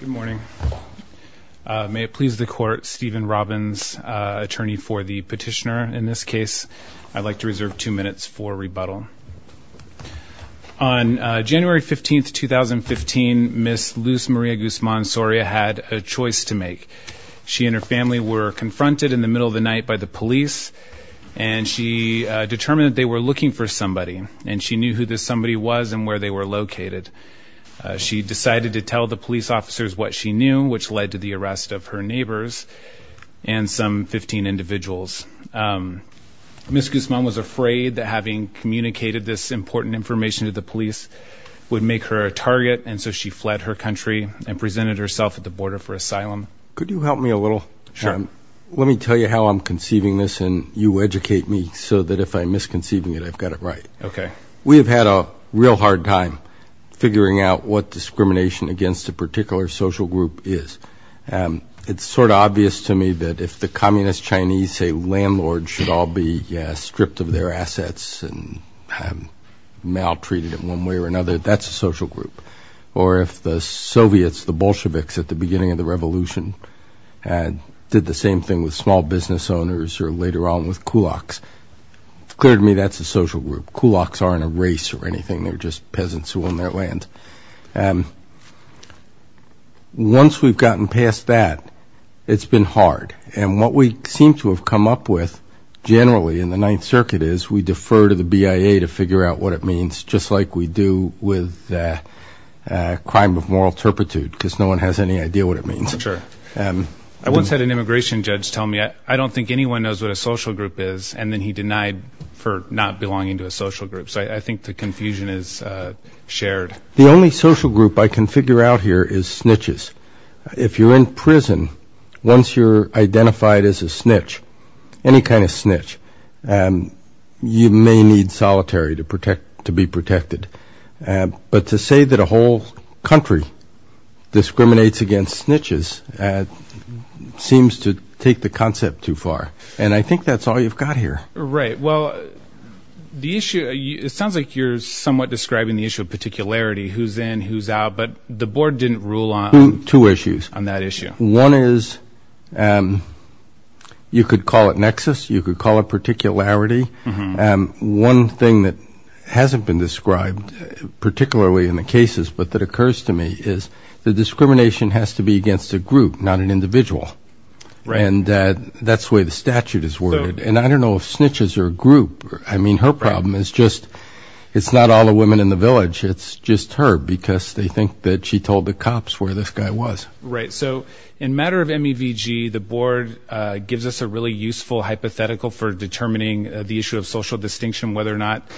Good morning. May it please the court, Stephen Robbins, attorney for the petitioner in this case. I'd like to reserve two minutes for rebuttal. On January 15th, 2015, Ms. Luz Maria Guzman Soria had a choice to make. She and her family were confronted in the middle of the night by the police and she determined they were looking for somebody and she knew who this somebody was and where they were located. She decided to tell the police officers what she knew, which led to the arrest of her neighbors and some 15 individuals. Ms. Guzman was afraid that having communicated this important information to the police would make her a target and so she fled her country and presented herself at the border for asylum. Could you help me a little? Sure. Let me tell you how I'm conceiving this and you educate me so that if I'm having a real hard time figuring out what discrimination against a particular social group is, it's sort of obvious to me that if the communist Chinese say landlords should all be stripped of their assets and maltreated in one way or another, that's a social group. Or if the Soviets, the Bolsheviks at the beginning of the revolution did the same thing with small business owners or later on with kulaks, clear to me that's a social group. Kulaks aren't a race or anything, they're just peasants who own their land. Once we've gotten past that, it's been hard. And what we seem to have come up with generally in the Ninth Circuit is we defer to the BIA to figure out what it means, just like we do with crime of moral turpitude, because no one has any idea what it means. Sure. I once had an immigration judge tell me, I don't think anyone knows what a social group is, and then he denied for not belonging to a social group. So I think the confusion is shared. The only social group I can figure out here is snitches. If you're in prison, once you're identified as a snitch, any kind of snitch, you may need solitary to protect, to be protected. But to say that a whole country discriminates against snitches seems to take the concept too far. And I think that's all you've got here. Right, well the issue, it sounds like you're somewhat describing the issue of particularity, who's in, who's out, but the board didn't rule on two issues on that issue. One is, you could call it nexus, you could call it particularity, and one thing that hasn't been described, particularly in the cases, but that occurs to me, is the discrimination has to be against a group, not an individual. And that's the way the statute is worded. And I don't know if snitches are a group. I mean, her problem is just, it's not all the women in the village. It's just her, because they think that she told the cops where this guy was. Right, so in matter of MEVG, the board gives us a really useful hypothetical for determining the issue of social distinction, whether or not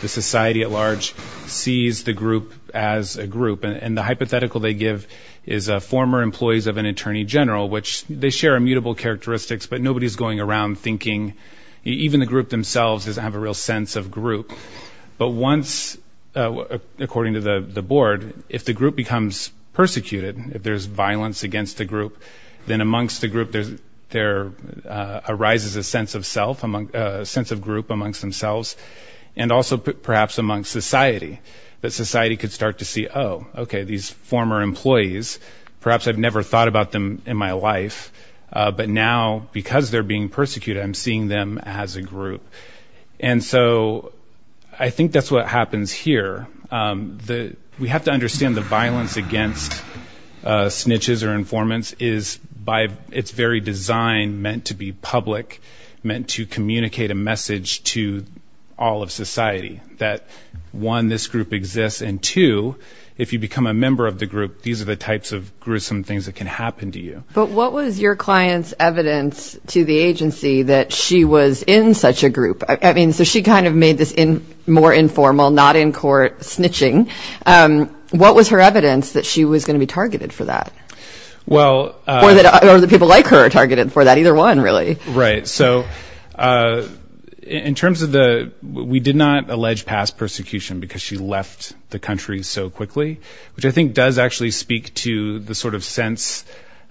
the society at large sees the group as a group. And the hypothetical they give is former employees of an attorney general, which they share immutable characteristics, but nobody's going around thinking, even the group themselves doesn't have a real sense of group. But once, according to the board, if the group becomes persecuted, if there's violence against the group, then amongst the group there arises a sense of self, a sense of group amongst themselves, and also perhaps amongst society, that society could start to see, oh, okay, these former employees, perhaps I've never thought about them in my life, but now, because they're being persecuted, I'm seeing them as a group. And so, I think that's what happens here. We have to understand the violence against snitches or informants is, by its very design, meant to be public, meant to communicate a message to all of society, that one, this group exists, and two, if you become a member of the group, these are the types of gruesome things that can happen to you. But what was your client's evidence to the agency that she was in such a group? I mean, so she kind of made this more informal, not in court, snitching. What was her evidence that she was going to be targeted for that? Or that people like her are targeted for that? Either one, really. Right. So, in terms of the, we did not allege past persecution because she left the country so quickly, which I think does actually speak to the sort of sense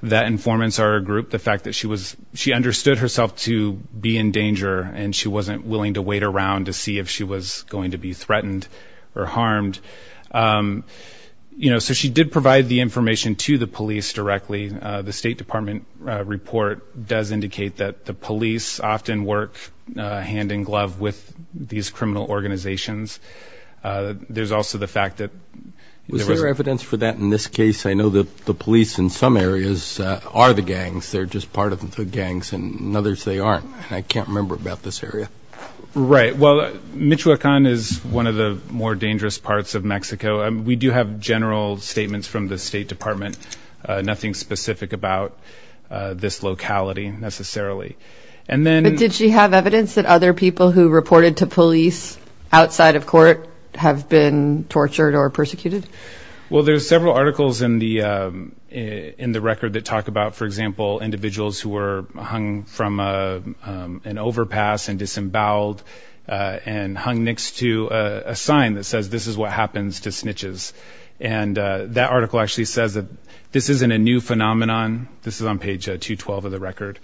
that informants are a group. The fact that she understood herself to be in danger and she wasn't willing to wait around to see if she was going to be threatened or harmed. You know, so she did provide the information to the police directly. The State Department report does indicate that the police often work hand-in-glove with these criminal organizations. There's also the fact that... Was there evidence for that in this case? I know that the police in some areas are the gangs, they're just part of the gangs, and others they aren't. I can't remember about this area. Right. Well, Michoacan is one of the more dangerous parts of Mexico. We do have general statements from the State Department, nothing specific about this locality, necessarily. And then... But did she have evidence that other people who reported to police outside of court have been tortured or persecuted? Well, there's several articles in the record that talk about, for example, individuals who were hung from an overpass and disemboweled and hung next to a sign that says, this is what happens to snitches. And that article actually says that this isn't a new phenomenon. This is on page 212 of the record.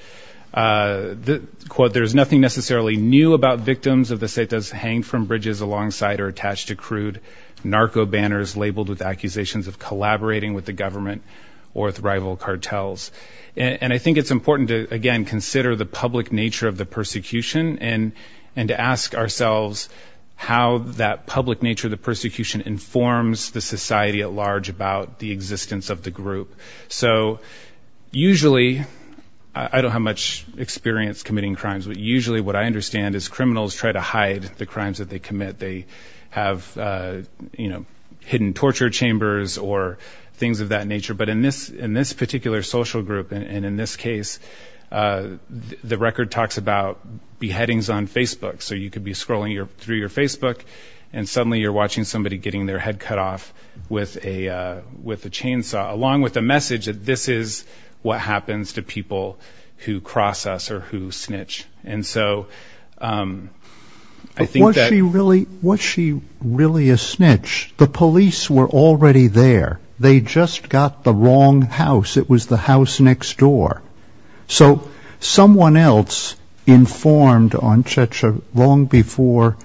The quote, there's nothing necessarily new about victims of the setas hanged from bridges alongside or attached to crude narco banners labeled with accusations of collaborating with the government or with rival cartels. And I think it's important to, again, consider the public nature of the persecution and and to ask ourselves how that public nature of the persecution informs the how much experience committing crimes. But usually what I understand is criminals try to hide the crimes that they commit. They have, you know, hidden torture chambers or things of that nature. But in this particular social group and in this case, the record talks about beheadings on Facebook. So you could be scrolling through your Facebook and suddenly you're watching somebody getting their head cut off with a chainsaw, along with a message that this is what happens to people who cross us or who snitch. And so I think that... Was she really a snitch? The police were already there. They just got the wrong house. It was the house next door. So someone else informed on Checha long before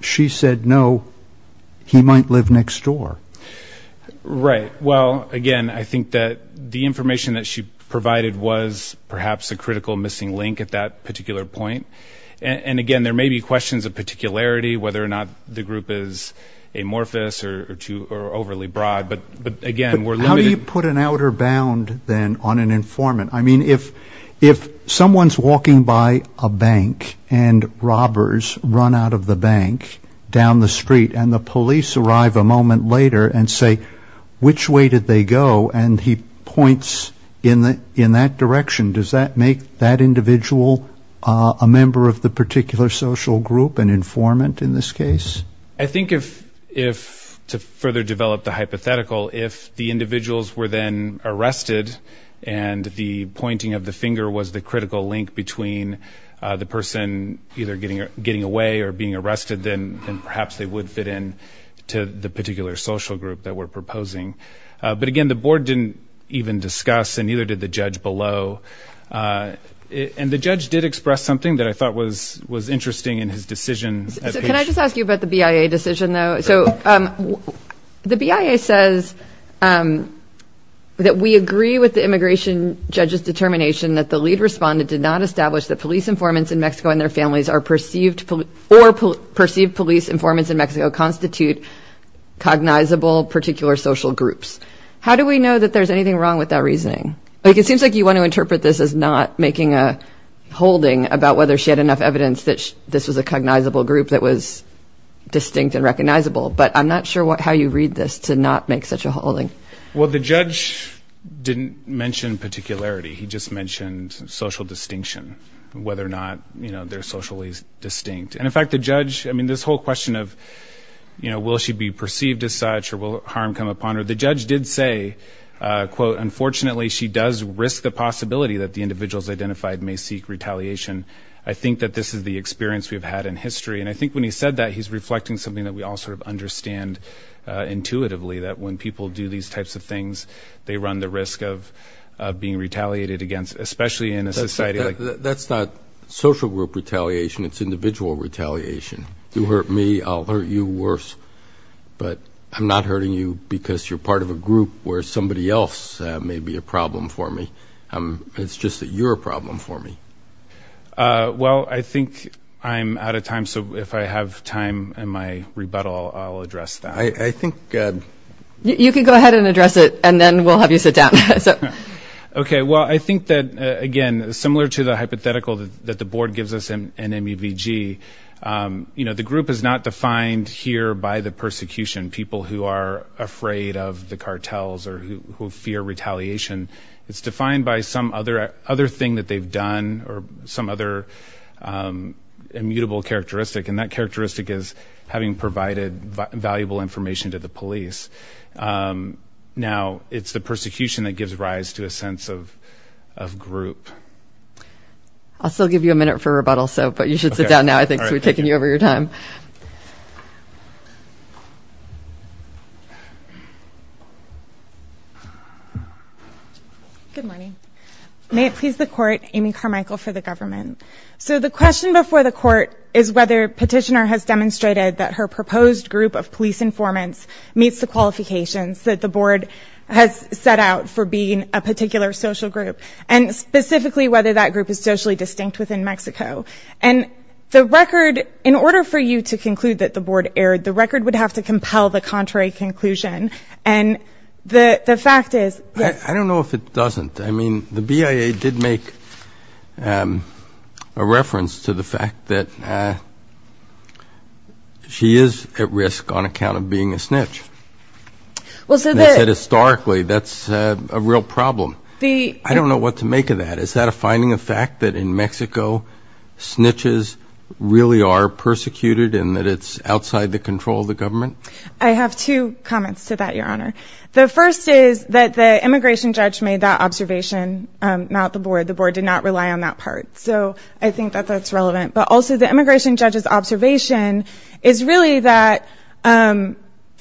she said no, he might live next door. Right. Well, again, I think that the information that she provided was perhaps a critical missing link at that particular point. And again, there may be questions of particularity, whether or not the group is amorphous or overly broad. But again, we're How do you put an outer bound then on an informant? I mean, if someone's walking by a bank and robbers run out of the bank down the street and the police arrive a moment later and say, which way did they go? And he points in that direction. Does that make that individual a member of the particular social group, an informant in this case? I think if to further develop the hypothetical, if the individuals were then arrested and the pointing of the finger was the critical link between the person either getting away or being arrested, then perhaps they would fit in to the particular social group that we're proposing. But again, the board didn't even discuss and neither did the judge below. And the judge did express something that I thought was was interesting in his decision. Can I just ask you about the BIA decision, though? So the BIA says that we agree with the immigration judge's determination that the lead respondent did not establish that police informants in Mexico and their families are perceived or perceived police informants in Mexico constitute cognizable particular social groups. How do we know that there's anything wrong with that reasoning? Like it seems like you want to interpret this as not making a holding about whether she had enough evidence that this was a cognizable group that was distinct and recognizable. But I'm not sure what how you read this to not make such a holding. Well, the judge didn't mention particularity. He just mentioned social distinction, whether or not, you know, they're socially distinct. And in fact, the judge, I mean, this whole question of, you know, will she be perceived as such or will harm come upon her? The judge did say, quote, unfortunately, she does risk the possibility that the individuals identified may seek retaliation. I think that this is the experience we've had in history. And I think when he said that, he's reflecting something that we all sort of understand intuitively, that when people do these types of things, they run the risk of being retaliated against, especially in a society. That's not social group retaliation. It's individual retaliation. You hurt me, I'll hurt you worse. But I'm not hurting you because you're part of a group where somebody else may be a problem for me. It's just that you're a problem for me. Well, I think I'm out of time. So if I have time in my rebuttal, I'll address that. I think you can go ahead and address it and then we'll have you sit down. Okay. Well, I similar to the hypothetical that the board gives us in MEVG, you know, the group is not defined here by the persecution. People who are afraid of the cartels or who fear retaliation. It's defined by some other thing that they've done or some other immutable characteristic. And that characteristic is having provided valuable information to the police. Now, it's the persecution that I'll still give you a minute for rebuttal. So, but you should sit down now. I think we've taken you over your time. Good morning. May it please the court, Amy Carmichael for the government. So the question before the court is whether petitioner has demonstrated that her proposed group of police informants meets the qualifications that the board has set out for being a particular social group. And specifically, whether that group is socially distinct within Mexico. And the record, in order for you to conclude that the board erred, the record would have to compel the contrary conclusion. And the fact is... I don't know if it doesn't. I mean, the BIA did make a reference to the fact that she is at risk on account of being a snitch. Well, so that historically that's a real problem. I don't know what to make of that. Is that a finding of fact that in Mexico, snitches really are persecuted and that it's outside the control of the government? I have two comments to that, Your Honor. The first is that the immigration judge made that observation, not the board. The board did not rely on that part. So I think that that's relevant. But also the immigration judge's observation is really that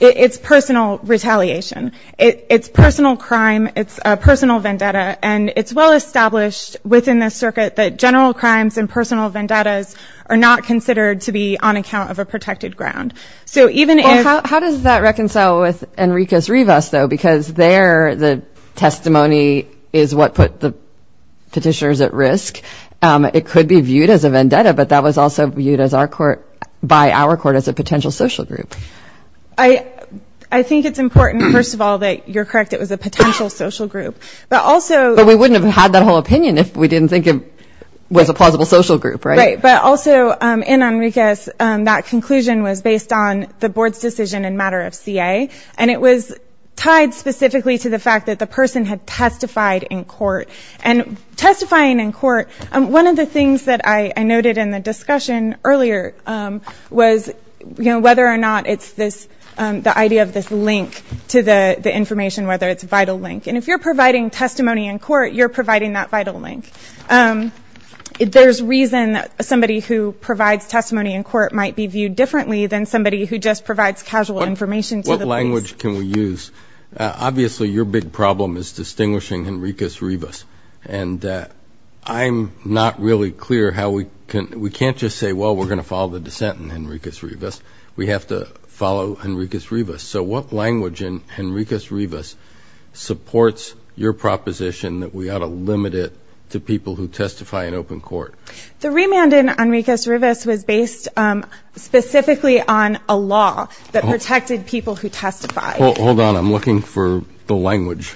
it's personal retaliation. It's personal crime. It's a personal vendetta. And it's well established within this circuit that general crimes and personal vendettas are not considered to be on account of a protected ground. So even if... Well, how does that reconcile with Enriquez Rivas, though? Because there, the testimony is what put the petitioners at risk. It could be viewed as a vendetta, but that was also viewed by our court as a potential social group. I think it's important, first of all, that you're correct. It was a potential social group. But also... But we wouldn't have had that whole opinion if we didn't think it was a plausible social group, right? Right. But also in Enriquez, that conclusion was based on the board's decision in matter of CA. And it was tied specifically to the fact that the person had testified in court. And testifying in court, one of the things that I noted in the discussion earlier was, you know, whether or not it's this, the idea of this link to the information, whether it's a vital link. And if you're providing testimony in court, you're providing that vital link. There's reason that somebody who provides testimony in court might be viewed differently than somebody who just provides casual information. What language can we use? Obviously, your big problem is distinguishing Enriquez Rivas. And I'm not really clear how we can... We can't just say, well, we're going to follow the dissent in Enriquez Rivas. We have to follow Enriquez Rivas. So what language in Enriquez Rivas supports your proposition that we ought to limit it to people who testify in open court? The remand in Enriquez Rivas was based specifically on a law that protected people who testified. Hold on, I'm looking for the language.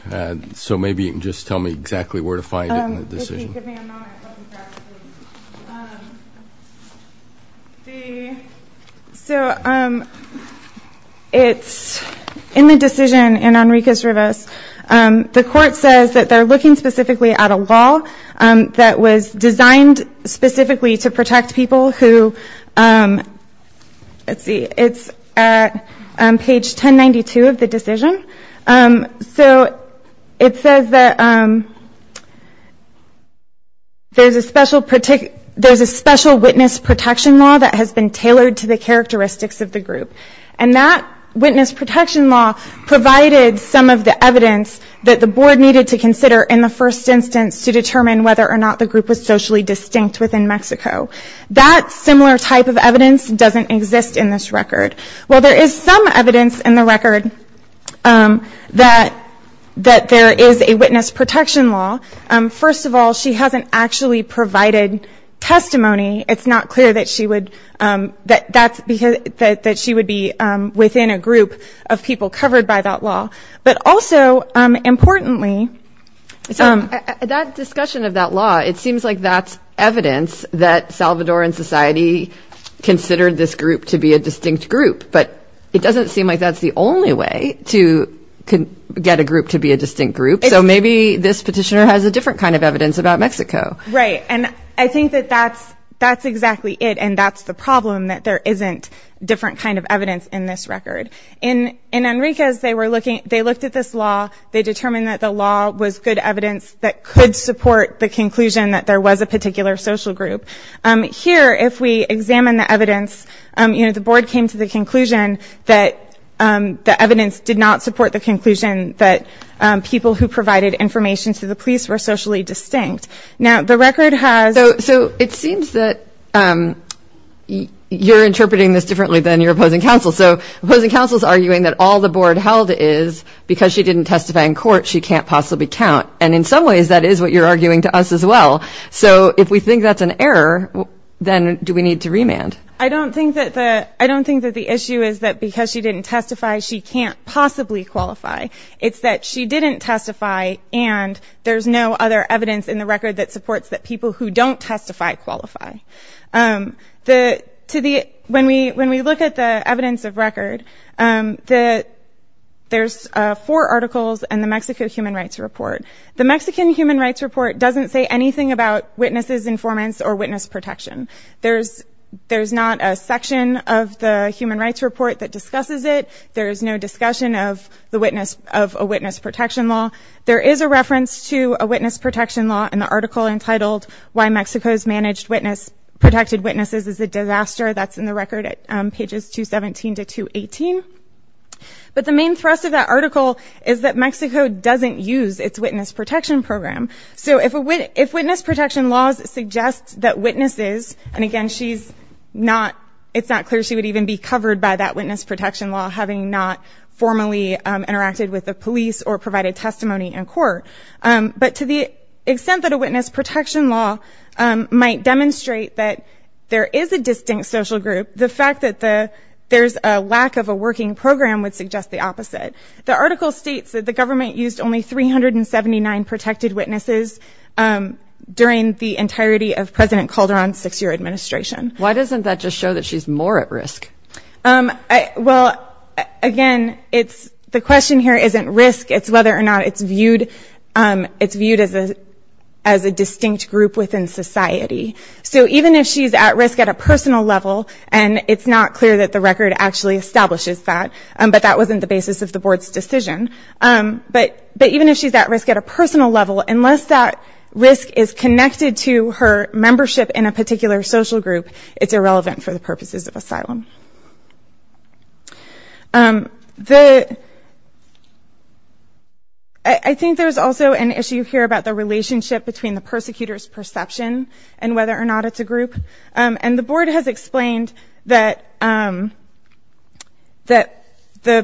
So maybe you can just tell me exactly where to find it in the decision. So, it's in the decision in Enriquez Rivas. The court says that they're looking specifically at a law that was designed specifically to protect people who... There's a special witness protection law that has been tailored to the characteristics of the group. And that witness protection law provided some of the evidence that the board needed to consider in the first instance to determine whether or not the group was socially distinct within Mexico. That similar type of evidence doesn't exist in this record. Well, there is some evidence in the record that there is a witness protection law. First of all, she hasn't actually provided testimony. It's not clear that she would be within a group of people covered by that law. But also, importantly... That discussion of that law, it seems like that's evidence that Salvadoran society considered this group to be a distinct group. But it doesn't seem like that's the only way to get a group to be a distinct group. So maybe this is not Mexico. Right. And I think that that's exactly it. And that's the problem, that there isn't different kind of evidence in this record. In Enriquez, they looked at this law. They determined that the law was good evidence that could support the conclusion that there was a particular social group. Here, if we examine the evidence, the board came to the conclusion that the evidence did not support the conclusion that people who the record has... So it seems that you're interpreting this differently than your opposing counsel. So opposing counsel is arguing that all the board held is, because she didn't testify in court, she can't possibly count. And in some ways, that is what you're arguing to us as well. So if we think that's an error, then do we need to remand? I don't think that the issue is that because she didn't testify, she can't possibly qualify. It's that she didn't testify, and there's no other evidence in the record that supports that people who don't testify qualify. When we look at the evidence of record, there's four articles and the Mexico Human Rights Report. The Mexican Human Rights Report doesn't say anything about witnesses' informants or witness protection. There's not a section of the Human Rights Report that discusses it. There is no discussion of a witness protection law. There is a reference to a witness protection law in the article entitled, Why Mexico's Managed Protected Witnesses is a Disaster. That's in the record at pages 217 to 218. But the main thrust of that article is that Mexico doesn't use its witness protection program. So if witness protection laws suggest that witnesses, and again, it's not clear she would even be covered by that witness protection law, having not formally interacted with the police or provided testimony in court. But to the extent that a witness protection law might demonstrate that there is a distinct social group, the fact that there's a lack of a working program would suggest the opposite. The article states that the government used only 379 protected witnesses during the entirety of President Calderon's six-year administration. Why doesn't that just work? Well, again, the question here isn't risk, it's whether or not it's viewed as a distinct group within society. So even if she's at risk at a personal level, and it's not clear that the record actually establishes that, but that wasn't the basis of the Board's decision. But even if she's at risk at a personal level, unless that risk is connected to her membership in a group, I think there's also an issue here about the relationship between the persecutor's perception and whether or not it's a group. And the Board has explained that the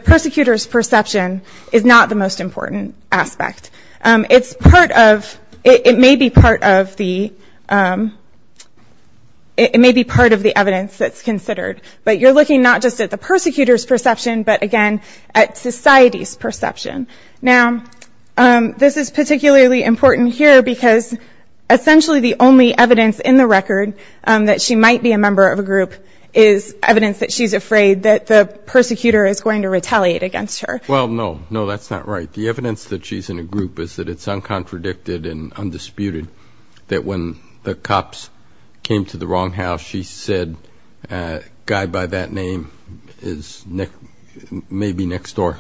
persecutor's perception is not the most important aspect. It's part of, it may be part of the, it may be part of the evidence that's considered. But you're looking not just at the persecutor's perception, but again, at society's perception. Now, this is particularly important here because essentially the only evidence in the record that she might be a member of a group is evidence that she's afraid that the persecutor is going to retaliate against her. Well, no, no, that's not right. The evidence that she's in a group is that it's uncontradicted and undisputed that when the cops came to the wrong house, she said, guy by that name is maybe next door.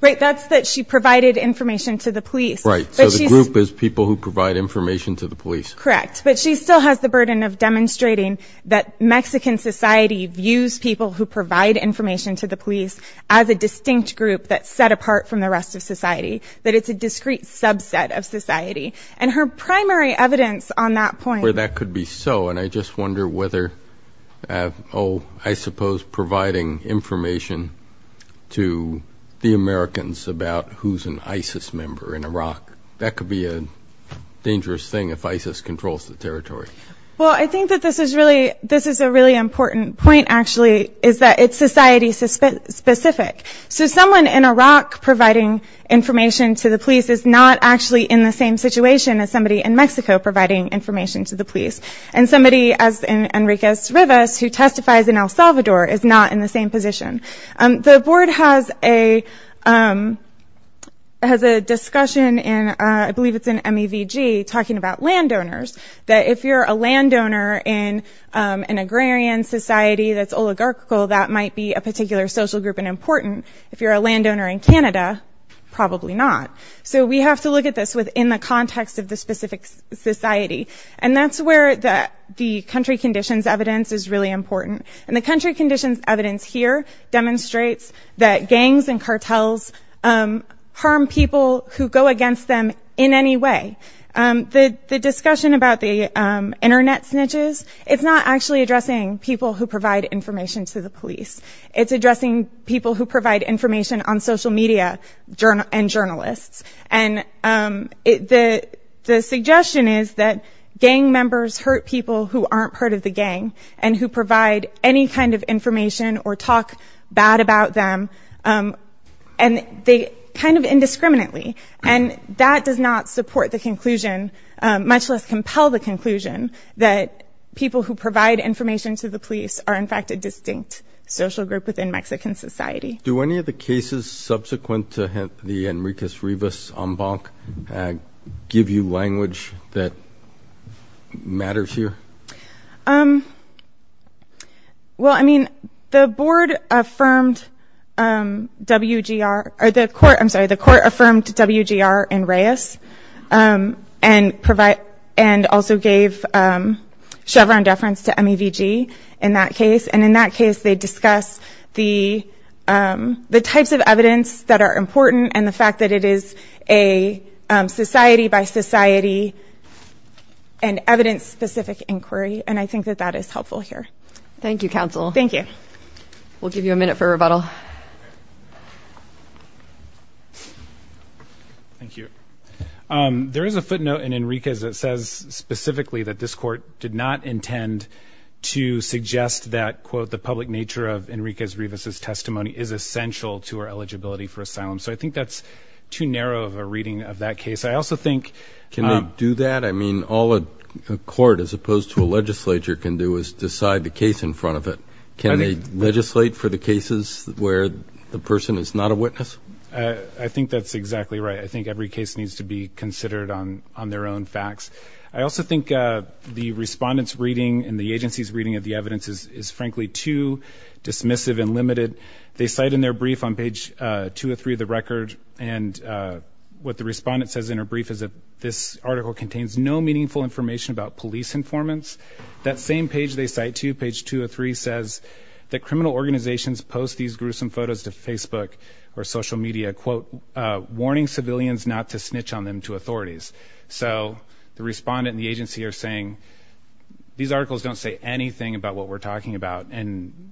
Right, that's that she provided information to the police. Right, so the group is people who provide information to the police. Correct. But she still has the burden of demonstrating that Mexican society views people who provide information to the police as a distinct group that's set apart from the rest of society, that it's a discrete subset of society. And her primary evidence on that point... Well, that could be so, and I just wonder whether, oh, I suppose providing information to the Americans about who's an ISIS member in Iraq, that could be a dangerous thing if ISIS controls the territory. Well, I think that this is really... This is a really important point, actually, is that it's society specific. So someone in Iraq providing information to the police is not actually in the same situation as somebody in Mexico providing information to the police. And somebody, as Enriquez Rivas, who testifies in El Salvador, is not in the same position. The board has a discussion in, I believe it's in MEVG, talking about landowners, that if you're a landowner in an agrarian society that's oligarchical, that might be a particular social group and important. If you're a landowner in Canada, probably not. So we have to look at this within the context of the specific society. And that's where the country conditions evidence is really important. And the country conditions evidence here demonstrates that gangs and cartels harm people who go against them in any way. The discussion about the internet snitches, it's not actually addressing people who provide information to the police. It's addressing people who provide information on social media and journalists. And the suggestion is that gang members hurt people who aren't part of the gang, and who provide any kind of information or talk bad about them, and they kind of indiscriminately. And that does not support the conclusion, much less compel the conclusion, that people who provide information to the police are in fact a distinct social group within Mexican society. Do any of the cases subsequent to the Enriquez Rivas embank give you language that matters here? Well, I mean, the board affirmed WGR, or the court, I'm sorry, the court affirmed WGR and Reyes, and also gave Chevron deference to MEVG in that case. And in that case, it's the types of evidence that are important, and the fact that it is a society by society and evidence specific inquiry, and I think that that is helpful here. Thank you, counsel. Thank you. We'll give you a minute for rebuttal. Thank you. There is a footnote in Enriquez that says specifically that this court did not intend to suggest that, quote, the public nature of Enriquez Rivas' testimony is essential to our eligibility for asylum. So I think that's too narrow of a reading of that case. I also think... Can they do that? I mean, all a court, as opposed to a legislature, can do is decide the case in front of it. Can they legislate for the cases where the person is not a witness? I think that's exactly right. I think every case needs to be considered on their own facts. I also think the respondents' reading and the agency's reading of the evidence is frankly too dismissive and limited. They cite in their brief on page 203 of the record, and what the respondent says in her brief is that this article contains no meaningful information about police informants. That same page they cite to, page 203, says that criminal organizations post these gruesome photos to Facebook or social media, quote, warning civilians not to snitch on them to authorities. So the respondent and the agency are saying, these articles don't say anything about what we're talking about, and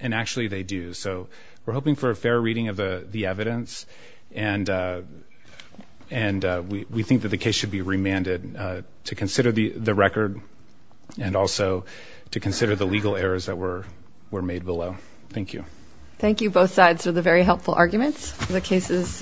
actually they do. So we're hoping for a fair reading of the evidence, and we think that the case should be remanded to consider the record, and also to consider the legal errors that were made below. Thank you. Thank you, both sides, for the very helpful arguments. The case is submitted.